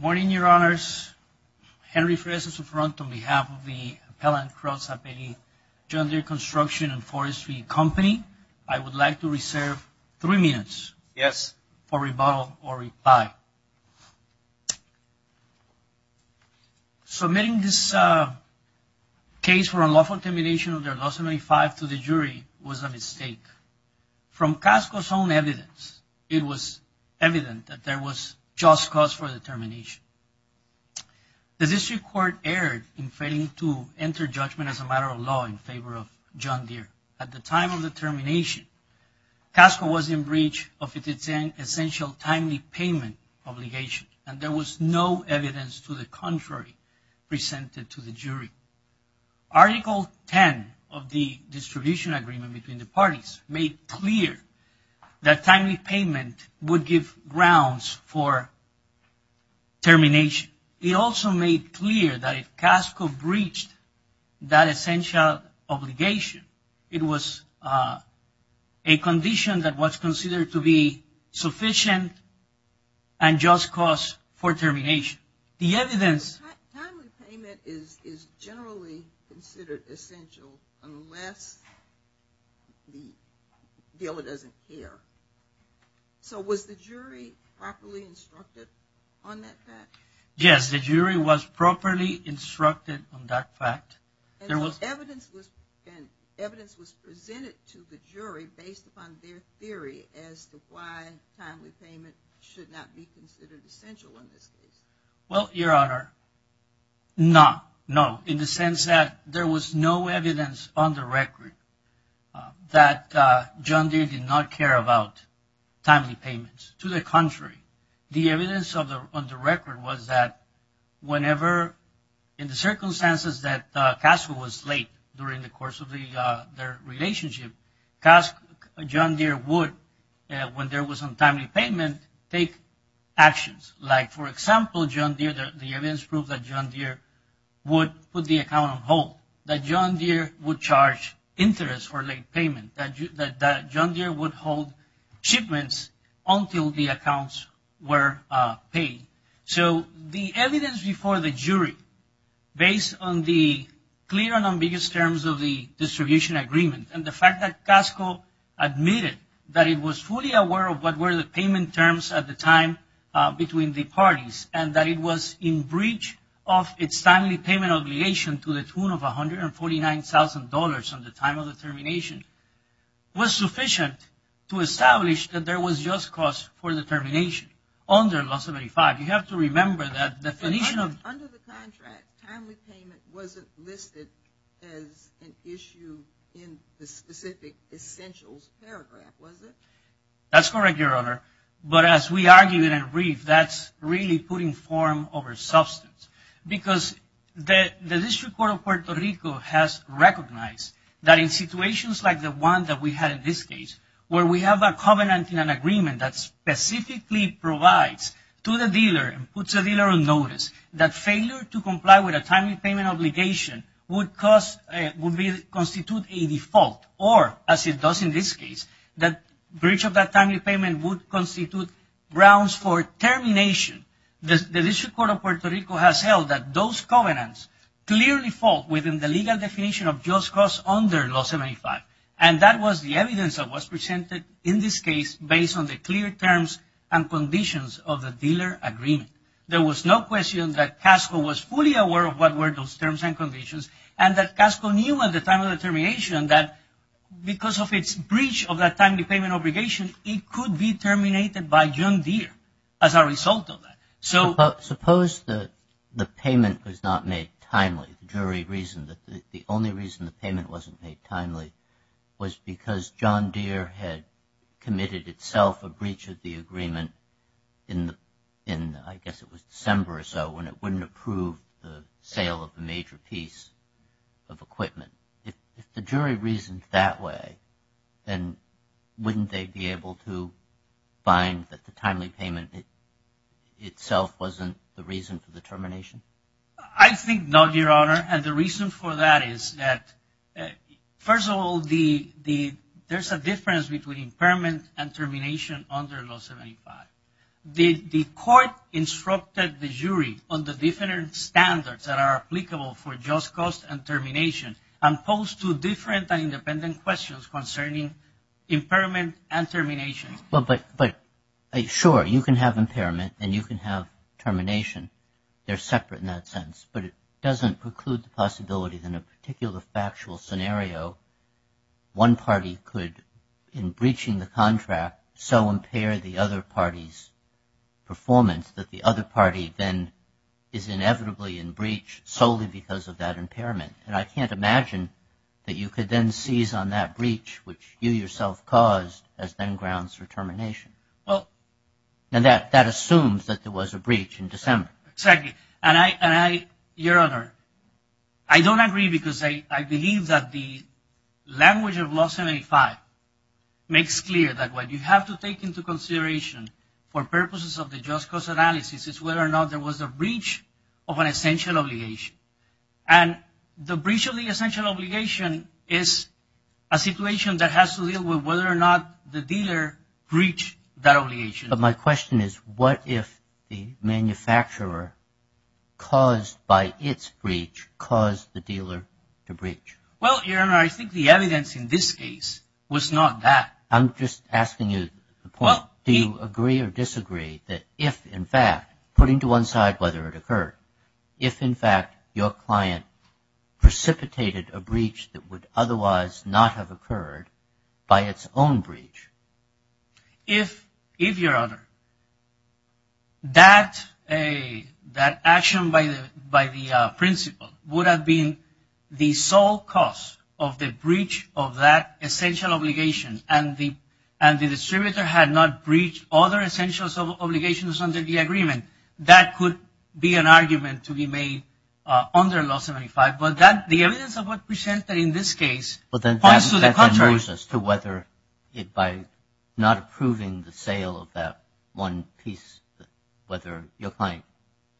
and Forestry Company. I would like to reserve three minutes for rebuttal or reply. Submitting this case for unlawful termination under Law 75 to the jury was a mistake. From Casco's own evidence, it was evident that there was just cause for the termination. The district court erred in failing to enter judgment as a matter of law in favor of John Deere. At the time of the termination, Casco was in breach of its essential timely payment obligation, and there was no evidence to the contrary presented to the jury. Article 10 of the distribution agreement between the parties made clear that timely payment would give grounds for termination. It also made clear that if Casco breached that essential obligation, it was a condition that was considered to be sufficient and just cause for termination. The evidence presented to the jury based upon their theory as to why timely payment should not be considered No. No. In the sense that there was no evidence on the record that John Deere did not care about timely payments. To the contrary, the evidence on the record was that whenever, in the circumstances that Casco was late during the course of their relationship, John Deere would, when there was some timely payment, take actions. Like, for example, John Deere, the evidence proved that John Deere would put the account on hold, that John Deere would charge interest for late payment, that John Deere would hold shipments until the accounts were paid. So the evidence before the jury, based on the clear and ambiguous terms of the distribution agreement and the fact that Casco admitted that it was fully aware of what were the payment terms at the time between the parties and that it was in breach of its timely payment obligation to the tune of $149,000 at the time of the termination, was sufficient to establish that there was just cause for the termination under Law 75. You have to remember that definition of Under the contract, timely payment wasn't listed as an issue in the specific essentials paragraph, was it? That's correct, Your Honor. But as we argued in a brief, that's really putting form over substance. Because the District Court of Puerto Rico has recognized that in situations like the one that we had in this case, where we have a covenant in an agreement that specifically provides to the dealer and puts the dealer on notice, that failure to comply with a timely breach of that timely payment would constitute grounds for termination. The District Court of Puerto Rico has held that those covenants clearly fall within the legal definition of just cause under Law 75. And that was the evidence that was presented in this case based on the clear terms and conditions of the dealer agreement. There was no question that Casco was fully aware of what were those terms and conditions and that Casco knew at the time of the termination that because of its breach of that timely payment obligation, it could be terminated by John Deere as a result of that. Suppose the payment was not made timely. The only reason the payment wasn't made timely was because John Deere had committed itself a breach of the agreement in, I guess it was If the jury reasoned that way, then wouldn't they be able to find that the timely payment itself wasn't the reason for the termination? I think not, Your Honor. And the reason for that is that, first of all, there's a difference between impairment and termination under Law 75. The court instructed the jury on the different standards that are applicable for just cause and termination and posed two different and independent questions concerning impairment and termination. But, sure, you can have impairment and you can have termination. They're separate in that sense. But it doesn't preclude the possibility that in a particular factual scenario, one party could, in breaching the contract, so impair the other party's performance that the other party then is inevitably in breach solely because of that impairment. And I can't imagine that you could then seize on that breach, which you yourself caused, as then grounds for termination. Well And that assumes that there was a breach in December. Exactly. And I, Your Honor, I don't agree because I believe that the language of Law or not there was a breach of an essential obligation. And the breach of the essential obligation is a situation that has to deal with whether or not the dealer breached that obligation. But my question is, what if the manufacturer, caused by its breach, caused the dealer to breach? Well, Your Honor, I think the evidence in this case was not that. I'm just asking you the point. Do you agree or disagree that if, in fact, putting to one side whether it occurred, if, in fact, your client precipitated a breach that would otherwise not have occurred by its own breach? If, Your Honor, that action by the principal would have been the sole cause of the breach of that essential obligation, and the distributor had not breached other essential obligations under the agreement, that could be an argument to be made under Law 75. But that, the evidence of what presented in this case points to the contrary. But that then moves us to whether it, by not approving the sale of that one piece, whether your client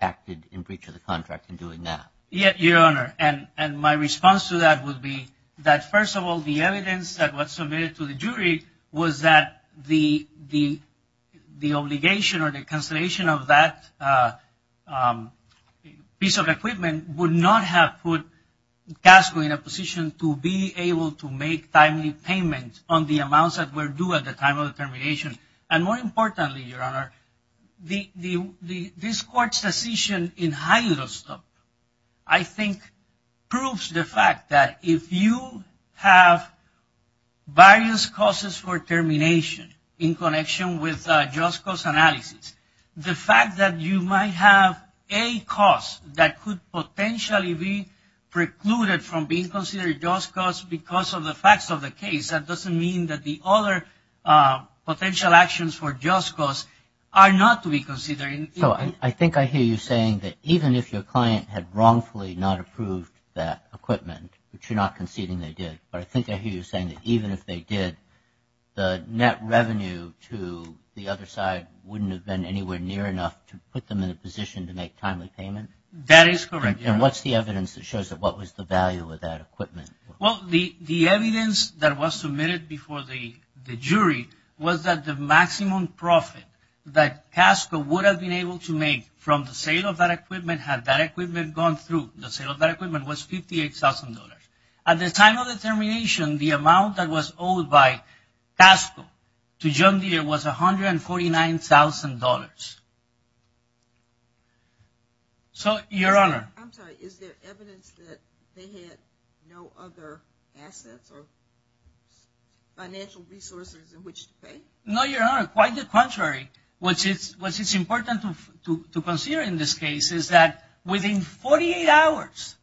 acted in breach of the contract in doing that. Yes, Your Honor. And my response to that would be that, first of all, the evidence that was submitted to the jury was that the obligation or the cancellation of that piece of equipment would not have put CASCO in a position to be able to make timely payment on the amounts that were due at the time of the termination. And more importantly, Your Honor, this Court's decision in Hylostop, I think, proves the fact that if you have various causes for termination in connection with just cause analysis, the fact that you might have a cause that could potentially be precluded from being considered just cause because of the facts of the case, that doesn't mean that the other potential actions for just cause are not to be considered. So I think I hear you saying that even if your client had wrongfully not approved that equipment, which you're not conceding they did, but I think I hear you saying that even if they did, the net revenue to the other side wouldn't have been anywhere near enough to put them in a position to make timely payment? That is correct, Your Honor. And what's the evidence that shows that? What was the value of that equipment? Well, the evidence that was submitted before the jury was that the maximum profit that CASCO would have been able to make from the sale of that equipment had that equipment gone through, the sale of that equipment was $58,000. At the time of the termination, the amount that was owed by CASCO to John Deere was $149,000. So Your Honor? I'm sorry, is there evidence that they had no other assets or financial resources in which to pay? No, Your Honor. Quite the contrary. What's important to consider in this case is that within 48 hours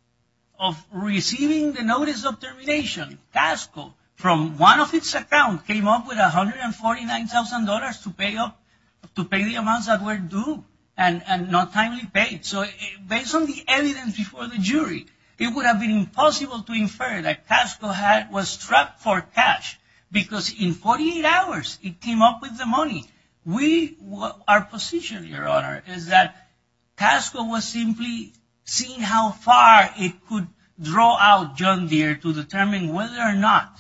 of receiving the notice of termination, CASCO, from one of its accounts, came up with $149,000 to pay the amounts that were due and not timely paid. So based on the evidence before the jury, it would have been impossible to infer that CASCO was trapped for cash because in 48 hours it came up with the money. We, our position, Your Honor, is that CASCO was simply seeing how far it could draw out John Deere to determine whether or not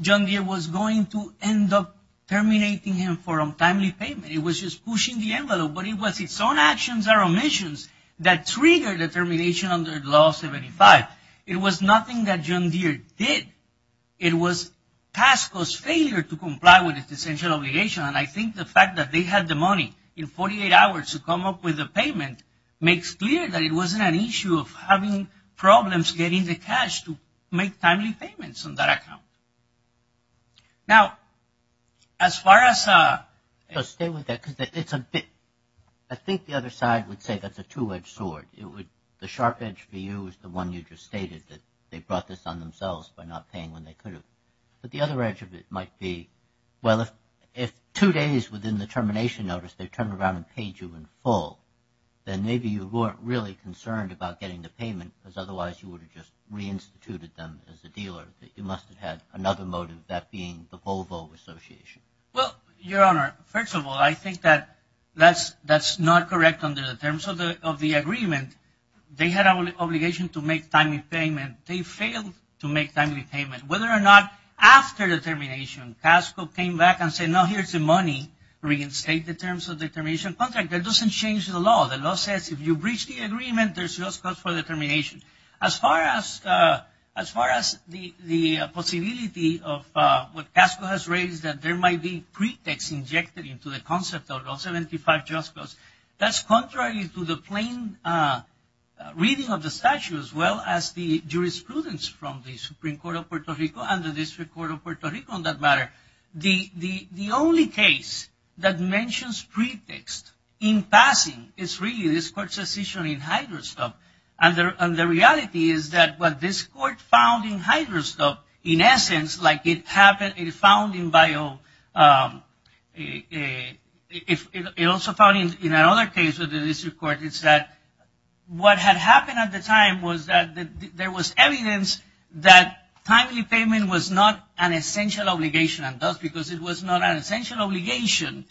John Deere was going to end up terminating him for untimely payment. It was just pushing the envelope, but it was its own actions or omissions that triggered the termination under Law 75. It was nothing that John Deere did. It was CASCO's failure to comply with its essential obligation, and I think the fact that they had the money in 48 hours to come up with a payment makes clear that it wasn't an issue of having problems getting the cash to make timely payments on that account. Now, as far as a... So stay with that because it's a bit... I think the other side would say that's a two-edged sword. It would... The sharp edge for you is the one you just stated, that they brought this on themselves by not paying when they could have, but the other edge of it might be, well, if two days within the termination notice they turned around and paid you in full, then maybe you weren't really concerned about getting the payment because otherwise you would have just reinstituted them as a dealer, that you must have had another motive, that being the Volvo Association. Well, Your Honor, first of all, I think that that's not correct under the terms of the agreement. They had an obligation to make timely payment. They failed to make timely payment. Whether or not after the termination, CASCO came back and said, no, here's the money, reinstate the terms of the termination contract, that doesn't change the law. The law says if you breach the agreement, there's just cause for determination. As far as the possibility of what CASCO has raised, that there might be pretexts injected into the concept of Rule 75 Just Cause, that's contrary to the plain reading of the statute as well as the jurisprudence from the Supreme Court of Puerto Rico and the District Court of Puerto Rico on that matter. The only case that mentions pretext in passing is really this court's decision in Hyderstub and the reality is that what this court found in Hyderstub, in essence, like it found in Bio, it also found in another case with the District Court, is that what had happened at the time was that there was evidence that timely payment was not an essential obligation and thus because it was not an essential obligation,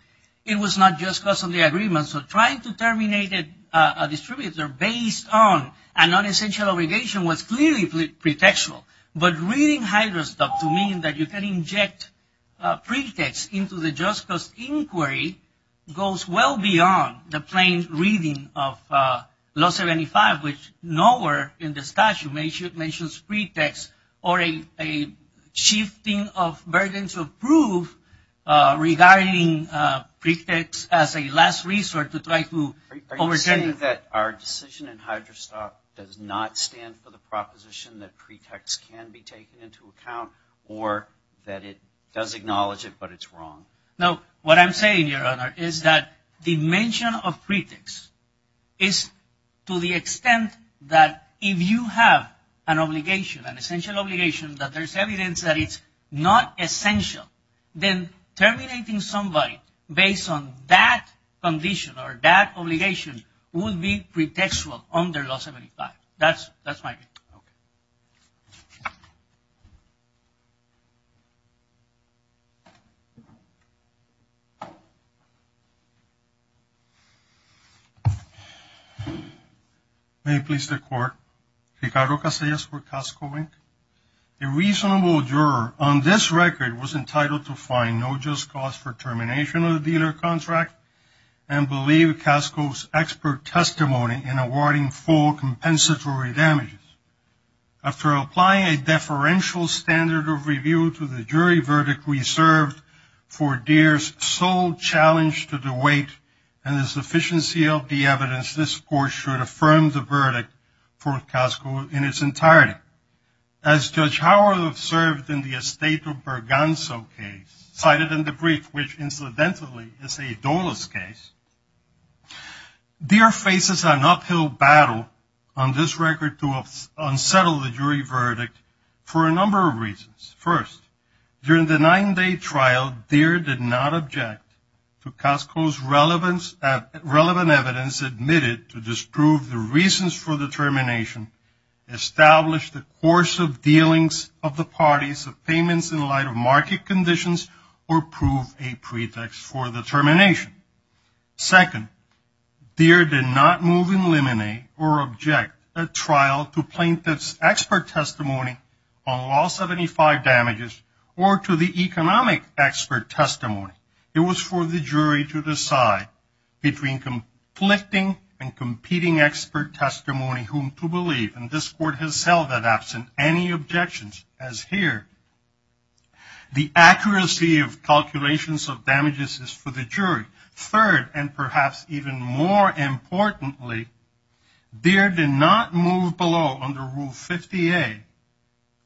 it was not just cause of the agreement. So trying to terminate a distributor based on an unessential obligation was clearly pretextual. But reading Hyderstub to mean that you can inject pretext into the Just Cause inquiry goes well beyond the plain reading of Law 75 which nowhere in the statute mentions pretext or a shifting of burdens of proof regarding pretext as a last resort to try to overstate. Are you saying that our decision in Hyderstub does not stand for the proposition that pretext can be taken into account or that it does acknowledge it but it's wrong? No, what I'm saying, Your Honor, is that the mention of pretext is to the extent that if you have an obligation, an essential obligation, that there's evidence that it's not essential, then terminating somebody based on that condition or that obligation would be pretextual under Law 75. That's my view. Okay. May it please the Court. Ricardo Casillas for CASCO, Inc. A reasonable juror on this record was entitled to find no just cause for termination of the dealer contract and believe CASCO's expert testimony in awarding full compensatory damages. After applying a deferential standard of review to the jury verdict reserved for Deere's sole challenge to the weight and the sufficiency of the evidence, this Court should affirm the verdict for CASCO in its entirety. As Judge Howard observed in the Esteto-Berganzo case, cited in the brief, which incidentally is a Dola's case, Deere faces an uphill battle on this record to unsettle the jury verdict for a number of reasons. First, during the nine-day trial, Deere did not object to CASCO's relevant evidence admitted to disprove the reasons for the termination, establish the course of dealings of the parties of payments in light of market conditions, or prove a pretext for the termination. Second, Deere did not move, eliminate, or object at trial to plaintiff's expert testimony on Law 75 damages or to the economic expert testimony. It was for the jury to decide between conflicting and competing expert testimony whom to believe, and this Court has held that absent any objections, as here, the accuracy of calculations of damages is for the jury. Third, and perhaps even more importantly, Deere did not move below under Rule 50A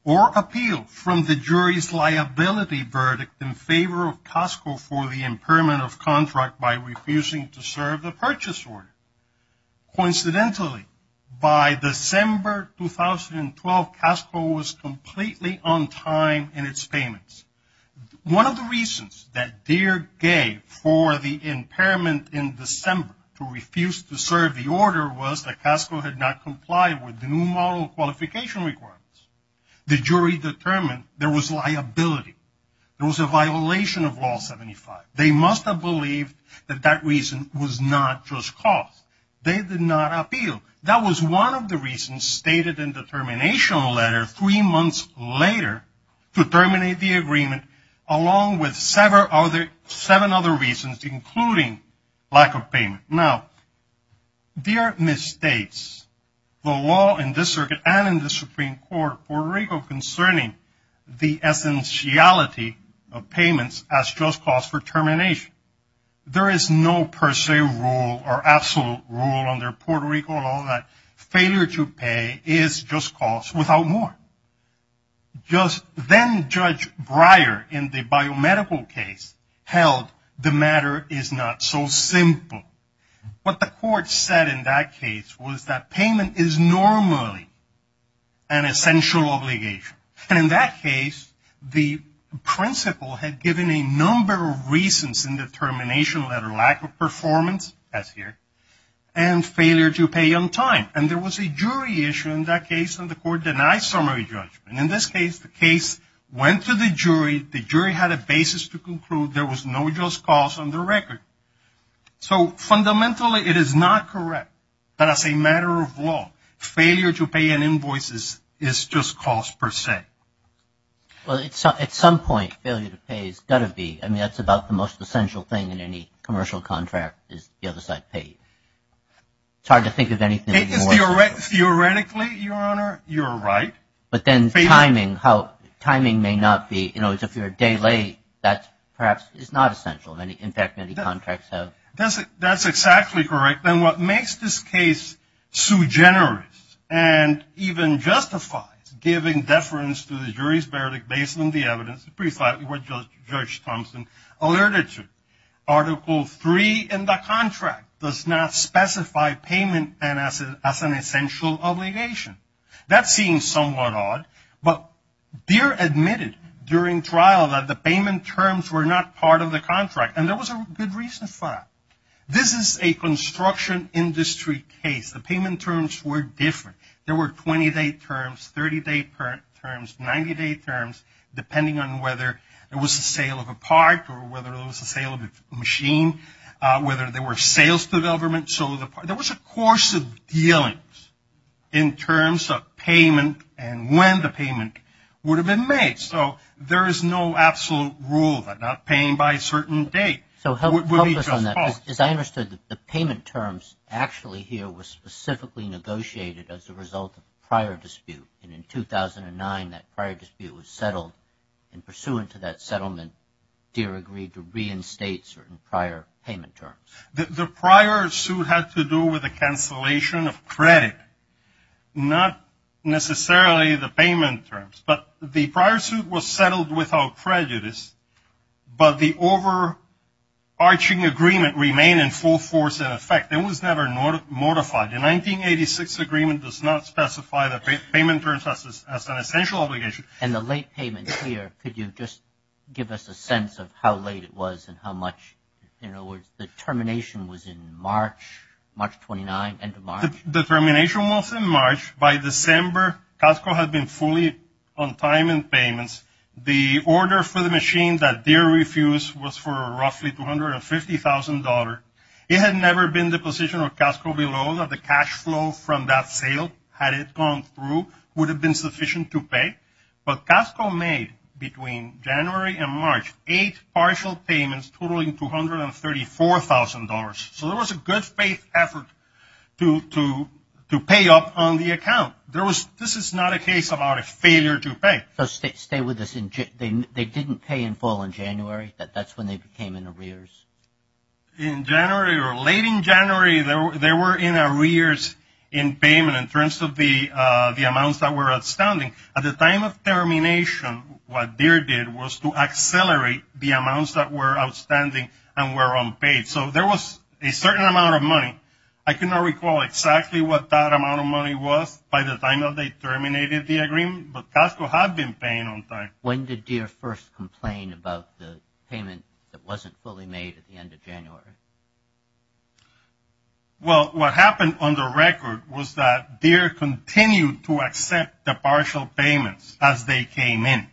or appeal from the jury's liability verdict in favor of CASCO for the impairment of contract by refusing to serve the purchase order. Coincidentally, by December 2012, CASCO was completely on time in its payments. One of the reasons that Deere gave for the impairment in December to refuse to serve the order was that CASCO had not complied with the new model qualification requirements. The jury determined there was liability. There was a violation of Law 75. They must have believed that that reason was not just cost. They did not appeal. That was one of the reasons stated in the termination letter three months later to terminate the agreement, along with seven other reasons, including lack of payment. Now, Deere misstates the law in this circuit and in the Supreme Court of Puerto Rico concerning the essentiality of payments as just cost for termination. There is no per se rule or absolute rule under Puerto Rico law that failure to pay is just cost without more. Just then Judge Breyer in the biomedical case held the matter is not so simple. What the court said in that case was that payment is normally an essential obligation. And in that case, the principal had given a number of reasons in the termination letter, lack of performance, as here, and failure to pay on time. And there was a jury issue in that case, and the court denied summary judgment. In this case, the case went to the jury. The jury had a basis to conclude there was no just cause on the record. So fundamentally, it is not correct that as a matter of law, failure to pay an invoice is just cost per se. Well, at some point, failure to pay has got to be. I mean, that's about the most essential thing in any commercial contract is the other side paid. It's hard to think of anything more. Theoretically, Your Honor, you're right. But then timing, how timing may not be, you know, if you're a day late, that perhaps is not essential. In fact, many contracts have. That's exactly correct. And what makes this case so generous and even justifies giving deference to the jury's verdict based on the evidence, pretty flatly what Judge Thompson alerted to. Article 3 in the contract does not specify payment as an essential obligation. That seems somewhat odd, but Deere admitted during trial that the payment terms were not part of the contract, and there was a good reason for that. This is a construction industry case. The payment terms were different. There were 20-day terms, 30-day terms, 90-day terms, depending on whether it was the sale of a part or whether it was the sale of a machine, whether there were sales to the government. So there was a course of dealings in terms of payment and when the payment would have been made. So there is no absolute rule about not paying by a certain date. So help us on that, because I understood that the payment terms actually here were specifically negotiated as a result of prior dispute. And in 2009, that prior dispute was settled, and pursuant to that settlement, Deere agreed to reinstate certain prior payment terms. The prior suit had to do with the cancellation of credit, not necessarily the payment terms. But the prior suit was settled without prejudice, but the overarching agreement remained in full force in effect. It was never modified. The 1986 agreement does not specify that payment terms as an essential obligation. And the late payment here, could you just give us a sense of how late it was and how much? In other words, the termination was in March, March 29, end of March? The termination was in March. By December, CASCO had been fully on time in payments. The order for the machine that Deere refused was for roughly $250,000. It had never been the position of CASCO below that the cash flow from that sale, had it gone through, would have been sufficient to pay. But CASCO made, between January and March, eight partial payments totaling $234,000. So there was a good faith effort to pay up on the account. There was, this is not a case about a failure to pay. So stay with us, they didn't pay in full in January, that's when they became in arrears? In January, or late in January, they were in arrears in payment in terms of the amounts that were outstanding. At the time of termination, what Deere did was to accelerate the amounts that were outstanding and were unpaid. So there was a certain amount of money. I cannot recall exactly what that amount of money was by the time that they terminated the agreement, but CASCO had been paying on time. When did Deere first complain about the payment that wasn't fully made at the end of January? Well, what happened on the record was that Deere continued to accept the partial payments as they came in.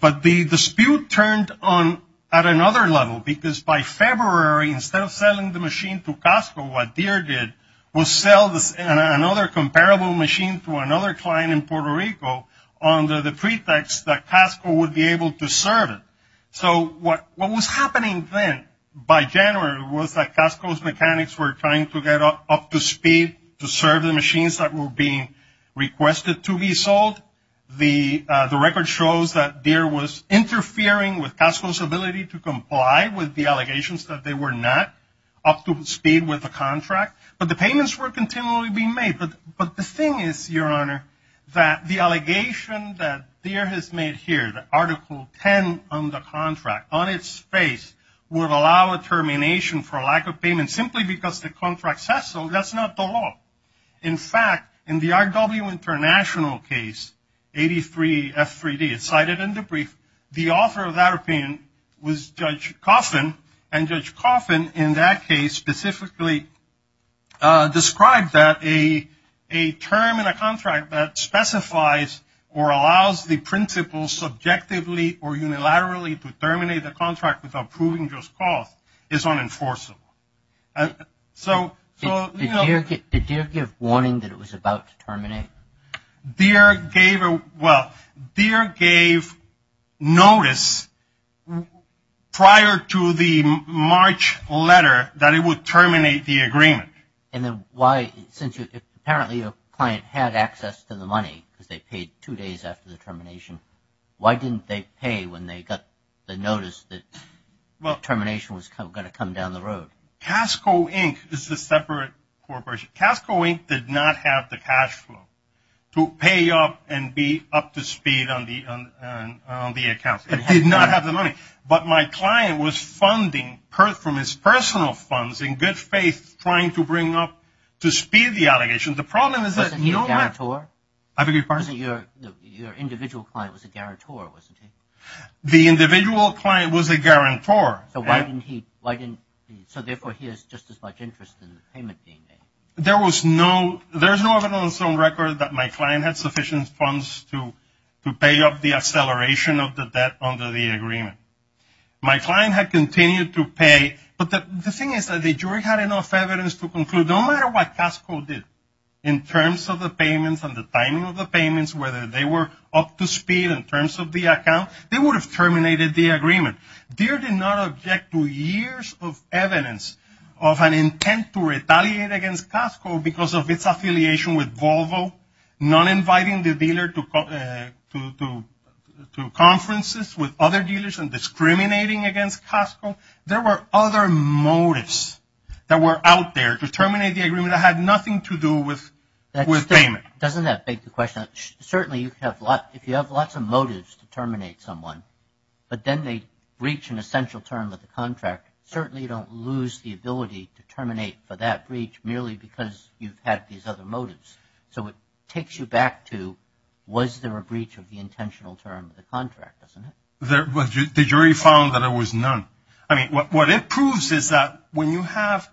But the dispute turned on at another level because by February, instead of selling the machine to CASCO, what Deere did was sell another comparable machine to another client in Puerto Rico under the pretext that CASCO would be able to serve it. So what was happening then by January was that CASCO's mechanics were trying to get up to speed to serve the machines that were being requested to be sold. The record shows that Deere was interfering with CASCO's ability to comply with the allegations that they were not up to speed with the contract. But the payments were continually being made. But the thing is, Your Honor, that the allegation that Deere has made here, the Article 10 on the contract, on its face, would allow a termination for lack of payment simply because the contract says so. That's not the law. In fact, in the RW International case, 83F3D, it's cited in the brief, the author of that opinion was Judge Coffin. And Judge Coffin in that case specifically described that a term in a contract that specifies or allows the principal subjectively or unilaterally to terminate the contract without proving just cause is unenforceable. So, you know. Did Deere give warning that it was about to terminate? Deere gave a, well, Deere gave notice prior to the March letter that it would terminate the agreement. And then why, since you, apparently your client had access to the money because they paid two days after the termination. Why didn't they pay when they got the notice that termination was going to come down the road? Casko, Inc. is a separate corporation. Casko, Inc. did not have the cash flow to pay up and be up to speed on the accounts. It did not have the money. But my client was funding from his personal funds in good faith trying to bring up, to speed the allegations. The problem is that you don't have... Wasn't he a guarantor? I beg your pardon? Your individual client was a guarantor, wasn't he? The individual client was a guarantor. So why didn't he, why didn't, so therefore he has just as much interest in the payment being made. There was no, there's no evidence on record that my client had sufficient funds to pay up the acceleration of the debt under the agreement. My client had continued to pay, but the thing is that the jury had enough evidence to conclude no matter what Casko did in terms of the payments and the timing of the payments, whether they were up to speed in terms of the account, they would have terminated the agreement. Deere did not object to years of evidence of an intent to retaliate against Casko because of its affiliation with Volvo, not inviting the dealer to conferences with other dealers and discriminating against Casko. There were other motives that were out there to terminate the agreement that had nothing to do with payment. Doesn't that beg the question? Certainly, if you have lots of motives to terminate someone, but then they breach an essential term of the contract, certainly you don't lose the ability to terminate for that breach merely because you've had these other motives. So it takes you back to was there a breach of the intentional term of the contract, doesn't it? The jury found that there was none. I mean, what it proves is that when you have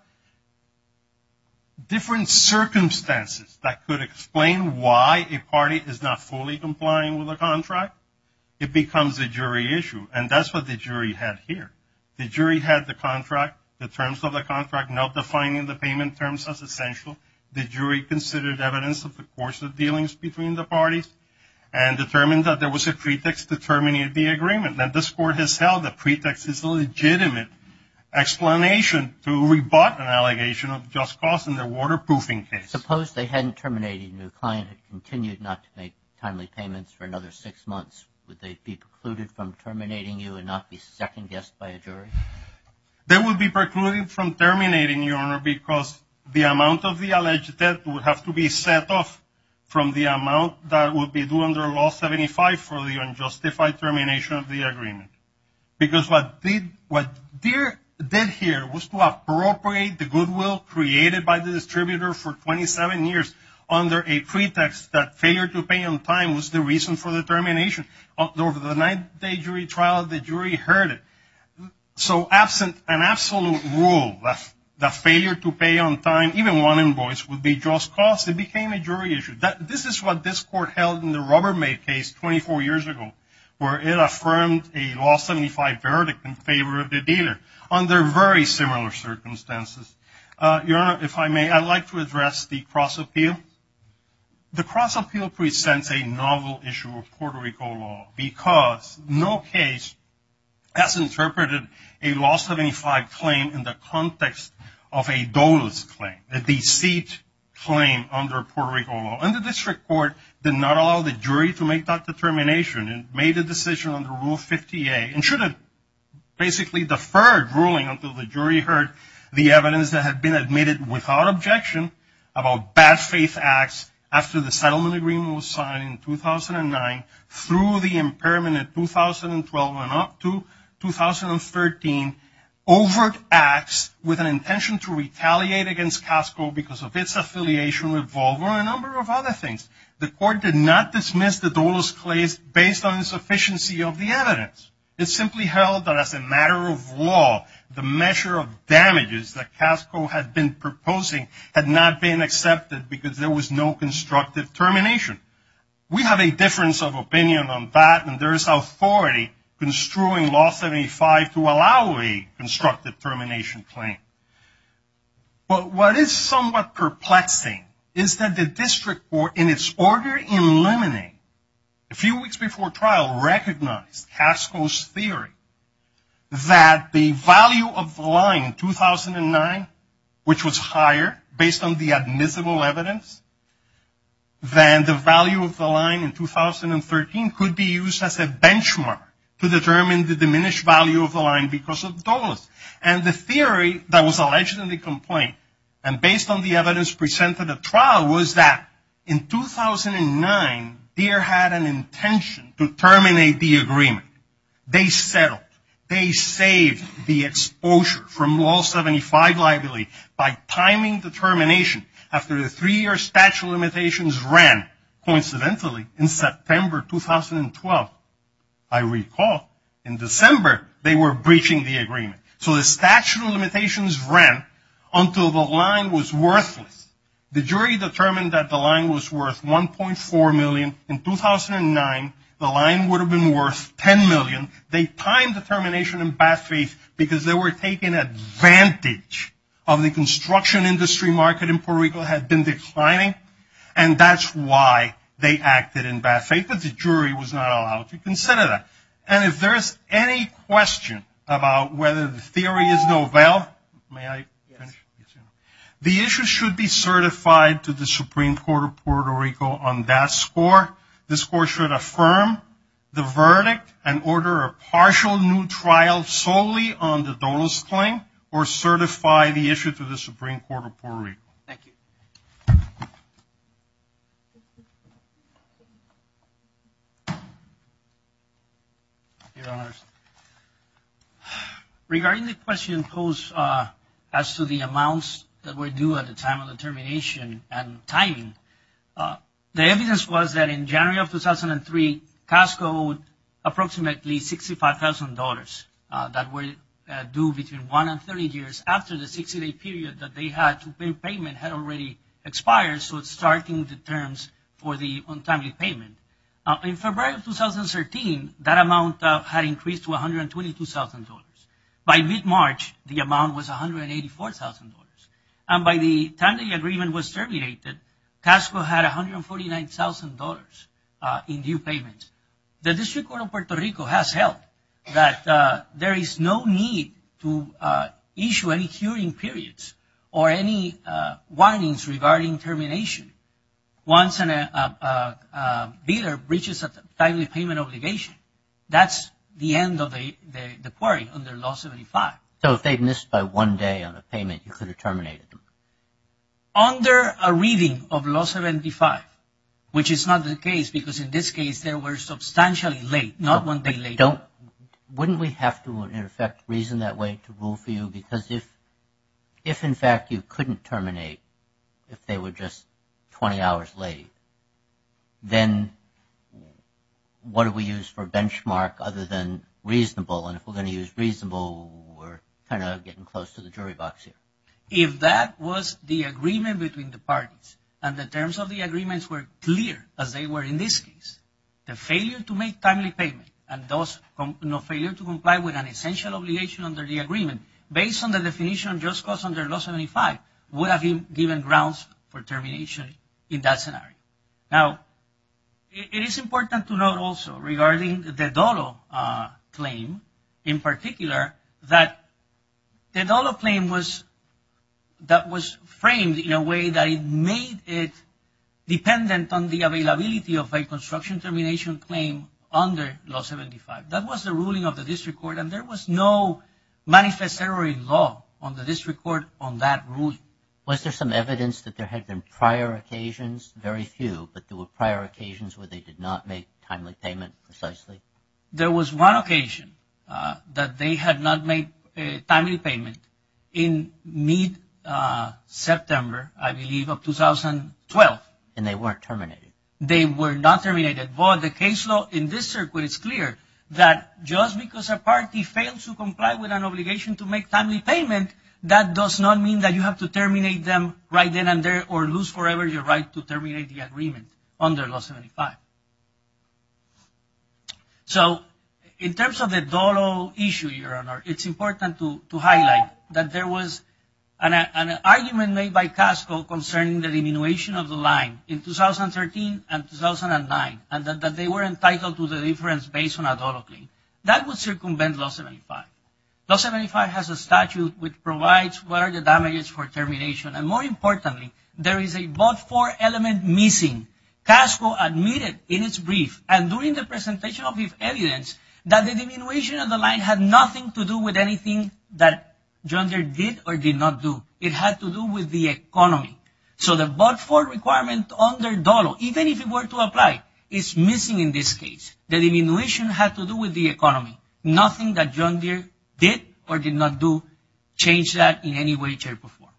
different circumstances that could explain why a party is not fully complying with a contract, it becomes a jury issue. And that's what the jury had here. The jury had the contract, the terms of the contract, not defining the payment terms as essential. The jury considered evidence of the course of dealings between the parties and determined that there was a pretext to terminate the agreement. And this court has held the pretext is a legitimate explanation to rebut an allegation of just cause in the waterproofing case. Suppose they hadn't terminated and the client had continued not to make timely payments for another six months. Would they be precluded from terminating you and not be second-guessed by a jury? They would be precluded from terminating, Your Honor, because the amount of the alleged debt would have to be set off from the amount that would be due under Law 75 for the unjustified termination of the agreement. Because what Deere did here was to appropriate the goodwill created by the distributor for 27 years under a pretext that failure to pay on time was the reason for the termination. Over the nine-day jury trial, the jury heard it. So absent an absolute rule that failure to pay on time, even one invoice, would be just cause, it became a jury issue. This is what this court held in the Rubbermaid case 24 years ago where it affirmed a Law 75 verdict in favor of the dealer under very similar circumstances. Your Honor, if I may, I'd like to address the cross appeal. The cross appeal presents a novel issue of Puerto Rico law because no case has interpreted a Law 75 claim in the context of a dolus claim, a deceit claim under Puerto Rico law. And the district court did not allow the jury to make that determination. It made a decision under Rule 50A and should have basically deferred ruling until the jury heard the evidence that had been admitted without objection about bad faith acts after the settlement agreement was signed in 2009 through the impairment in 2012 and up to 2013, overt acts with an intention to retaliate against CASCO because of its affiliation with Volvo and a number of other things. The court did not dismiss the dolus claims based on insufficiency of the evidence. It simply held that as a matter of law, the measure of damages that CASCO had been proposing had not been accepted because there was no constructive termination. We have a difference of opinion on that and there is authority construing Law 75 to allow a constructive termination claim. But what is somewhat perplexing is that the district court, in its order eliminating a few weeks before trial, recognized CASCO's theory that the value of the line in 2009, which was higher based on the admissible evidence, than the value of the line in 2013 could be used as a benchmark to determine the diminished value of the line because of dolus. And the theory that was alleged in the complaint and based on the evidence presented at trial was that in 2009 DEER had an intention to terminate the agreement. They settled. They saved the exposure from Law 75 liability by timing the termination after the three-year statute of limitations ran. Coincidentally, in September 2012, I recall, in December they were breaching the agreement. So the statute of limitations ran until the line was worthless. The jury determined that the line was worth 1.4 million. In 2009, the line would have been worth 10 million. They timed the termination in bad faith because they were taking advantage of the construction industry market in Puerto Rico had been declining and that's why they acted in bad faith. But the jury was not allowed to consider that. And if there's any question about whether the theory is novel, may I finish? The issue should be certified to the Supreme Court of Puerto Rico on that score. The score should affirm the verdict and order a partial new trial solely on the dolus claim or certify the issue to the Supreme Court of Puerto Rico. Thank you. Thank you. Regarding the question posed as to the amounts that were due at the time of the termination and timing, the evidence was that in January of 2003, CASCO owed approximately $65,000 that were due between 1 and 30 years after the 60-day period that they had to pay payment had already expired. So it's starting the terms for the untimely payment. In February of 2013, that amount had increased to $122,000. By mid-March, the amount was $184,000. And by the time the agreement was terminated, CASCO had $149,000 in due payments. The District Court of Puerto Rico has held that there is no need to issue any hearing periods or any warnings regarding termination once a bidder breaches a timely payment obligation. That's the end of the query under Law 75. So if they missed by one day on a payment, you could have terminated them? Under a reading of Law 75, which is not the case because in this case, they were substantially late, not one day late. Wouldn't we have to, in effect, reason that way to rule for you? Because if, in fact, you couldn't terminate if they were just 20 hours late, then what do we use for benchmark other than reasonable? And if we're going to use reasonable, we're kind of getting close to the jury box here. If that was the agreement between the parties and the terms of the agreements were clear as they were in this case, the failure to make timely payment and thus no failure to comply with an essential obligation under the agreement based on the definition of just cause under Law 75 would have been given grounds for termination in that scenario. Now, it is important to note also regarding the Dolo claim in particular that the Dolo claim was framed in a way that it made it dependent on the availability of a construction termination claim under Law 75. That was the ruling of the district court and there was no manifest error in law on the district court on that ruling. Was there some evidence that there had been prior occasions? Very few, but there were prior occasions where they did not make timely payment precisely? There was one occasion that they had not made a timely payment in mid-September, I believe, of 2012. And they weren't terminated? They were not terminated, but the case law in this circuit is clear that just because a party fails to comply with an obligation to make timely payment that does not mean that you have to terminate them right then and there or lose forever your right to terminate the agreement under Law 75. So, in terms of the Dolo issue, Your Honor, it's important to highlight that there was an argument made by CASCO concerning the diminution of the line in 2013 and 2009 and that they were entitled to the difference based on a Dolo claim. That would circumvent Law 75. Law 75 has a statute which provides what are the damages for termination and, more importantly, there is a but-for element missing. CASCO admitted in its brief and during the presentation of evidence that the diminution of the line had nothing to do with anything that John Deere did or did not do. It had to do with the economy. So, the but-for requirement under Dolo, even if it were to apply, is missing in this case. The diminution had to do with the economy. Nothing that John Deere did or did not do changed that in any way, shape, or form. Very well.